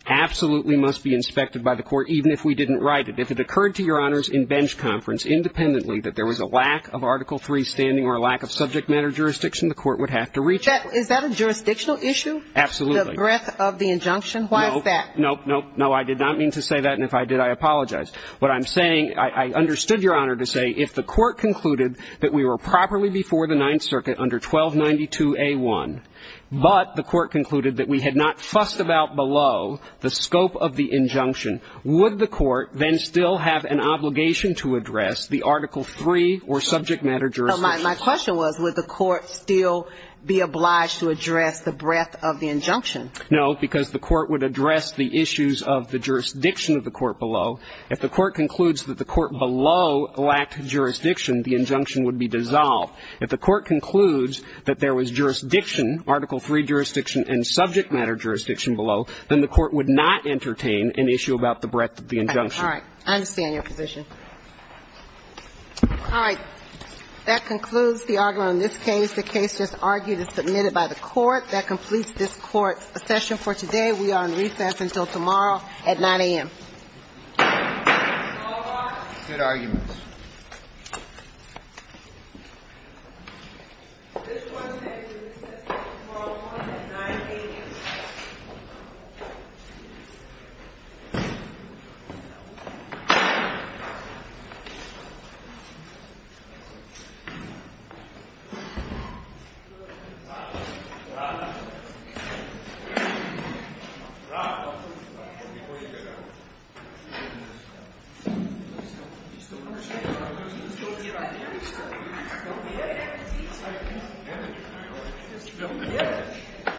absolutely must be inspected by the court, even if we didn't write it. If it occurred to Your Honors in bench conference independently that there was a lack of Article III standing or a lack of subject matter jurisdiction, the court would have to reach it. Is that a jurisdictional issue? Absolutely. The breadth of the injunction? Why is that? No, no, no. I did not mean to say that, and if I did, I apologize. What I'm saying, I understood Your Honor to say if the court concluded that we were But the court concluded that we had not fussed about below the scope of the injunction, would the court then still have an obligation to address the Article III or subject matter jurisdiction? My question was would the court still be obliged to address the breadth of the injunction? No, because the court would address the issues of the jurisdiction of the court below. If the court concludes that the court below lacked jurisdiction, the injunction would be dissolved. If the court concludes that there was jurisdiction, Article III jurisdiction and subject matter jurisdiction below, then the court would not entertain an issue about the breadth of the injunction. All right. I understand your position. All right. That concludes the argument on this case. The case just argued is submitted by the Court. That completes this Court session for today. We are on recess until tomorrow at 9 a.m. Good argument. Thank you.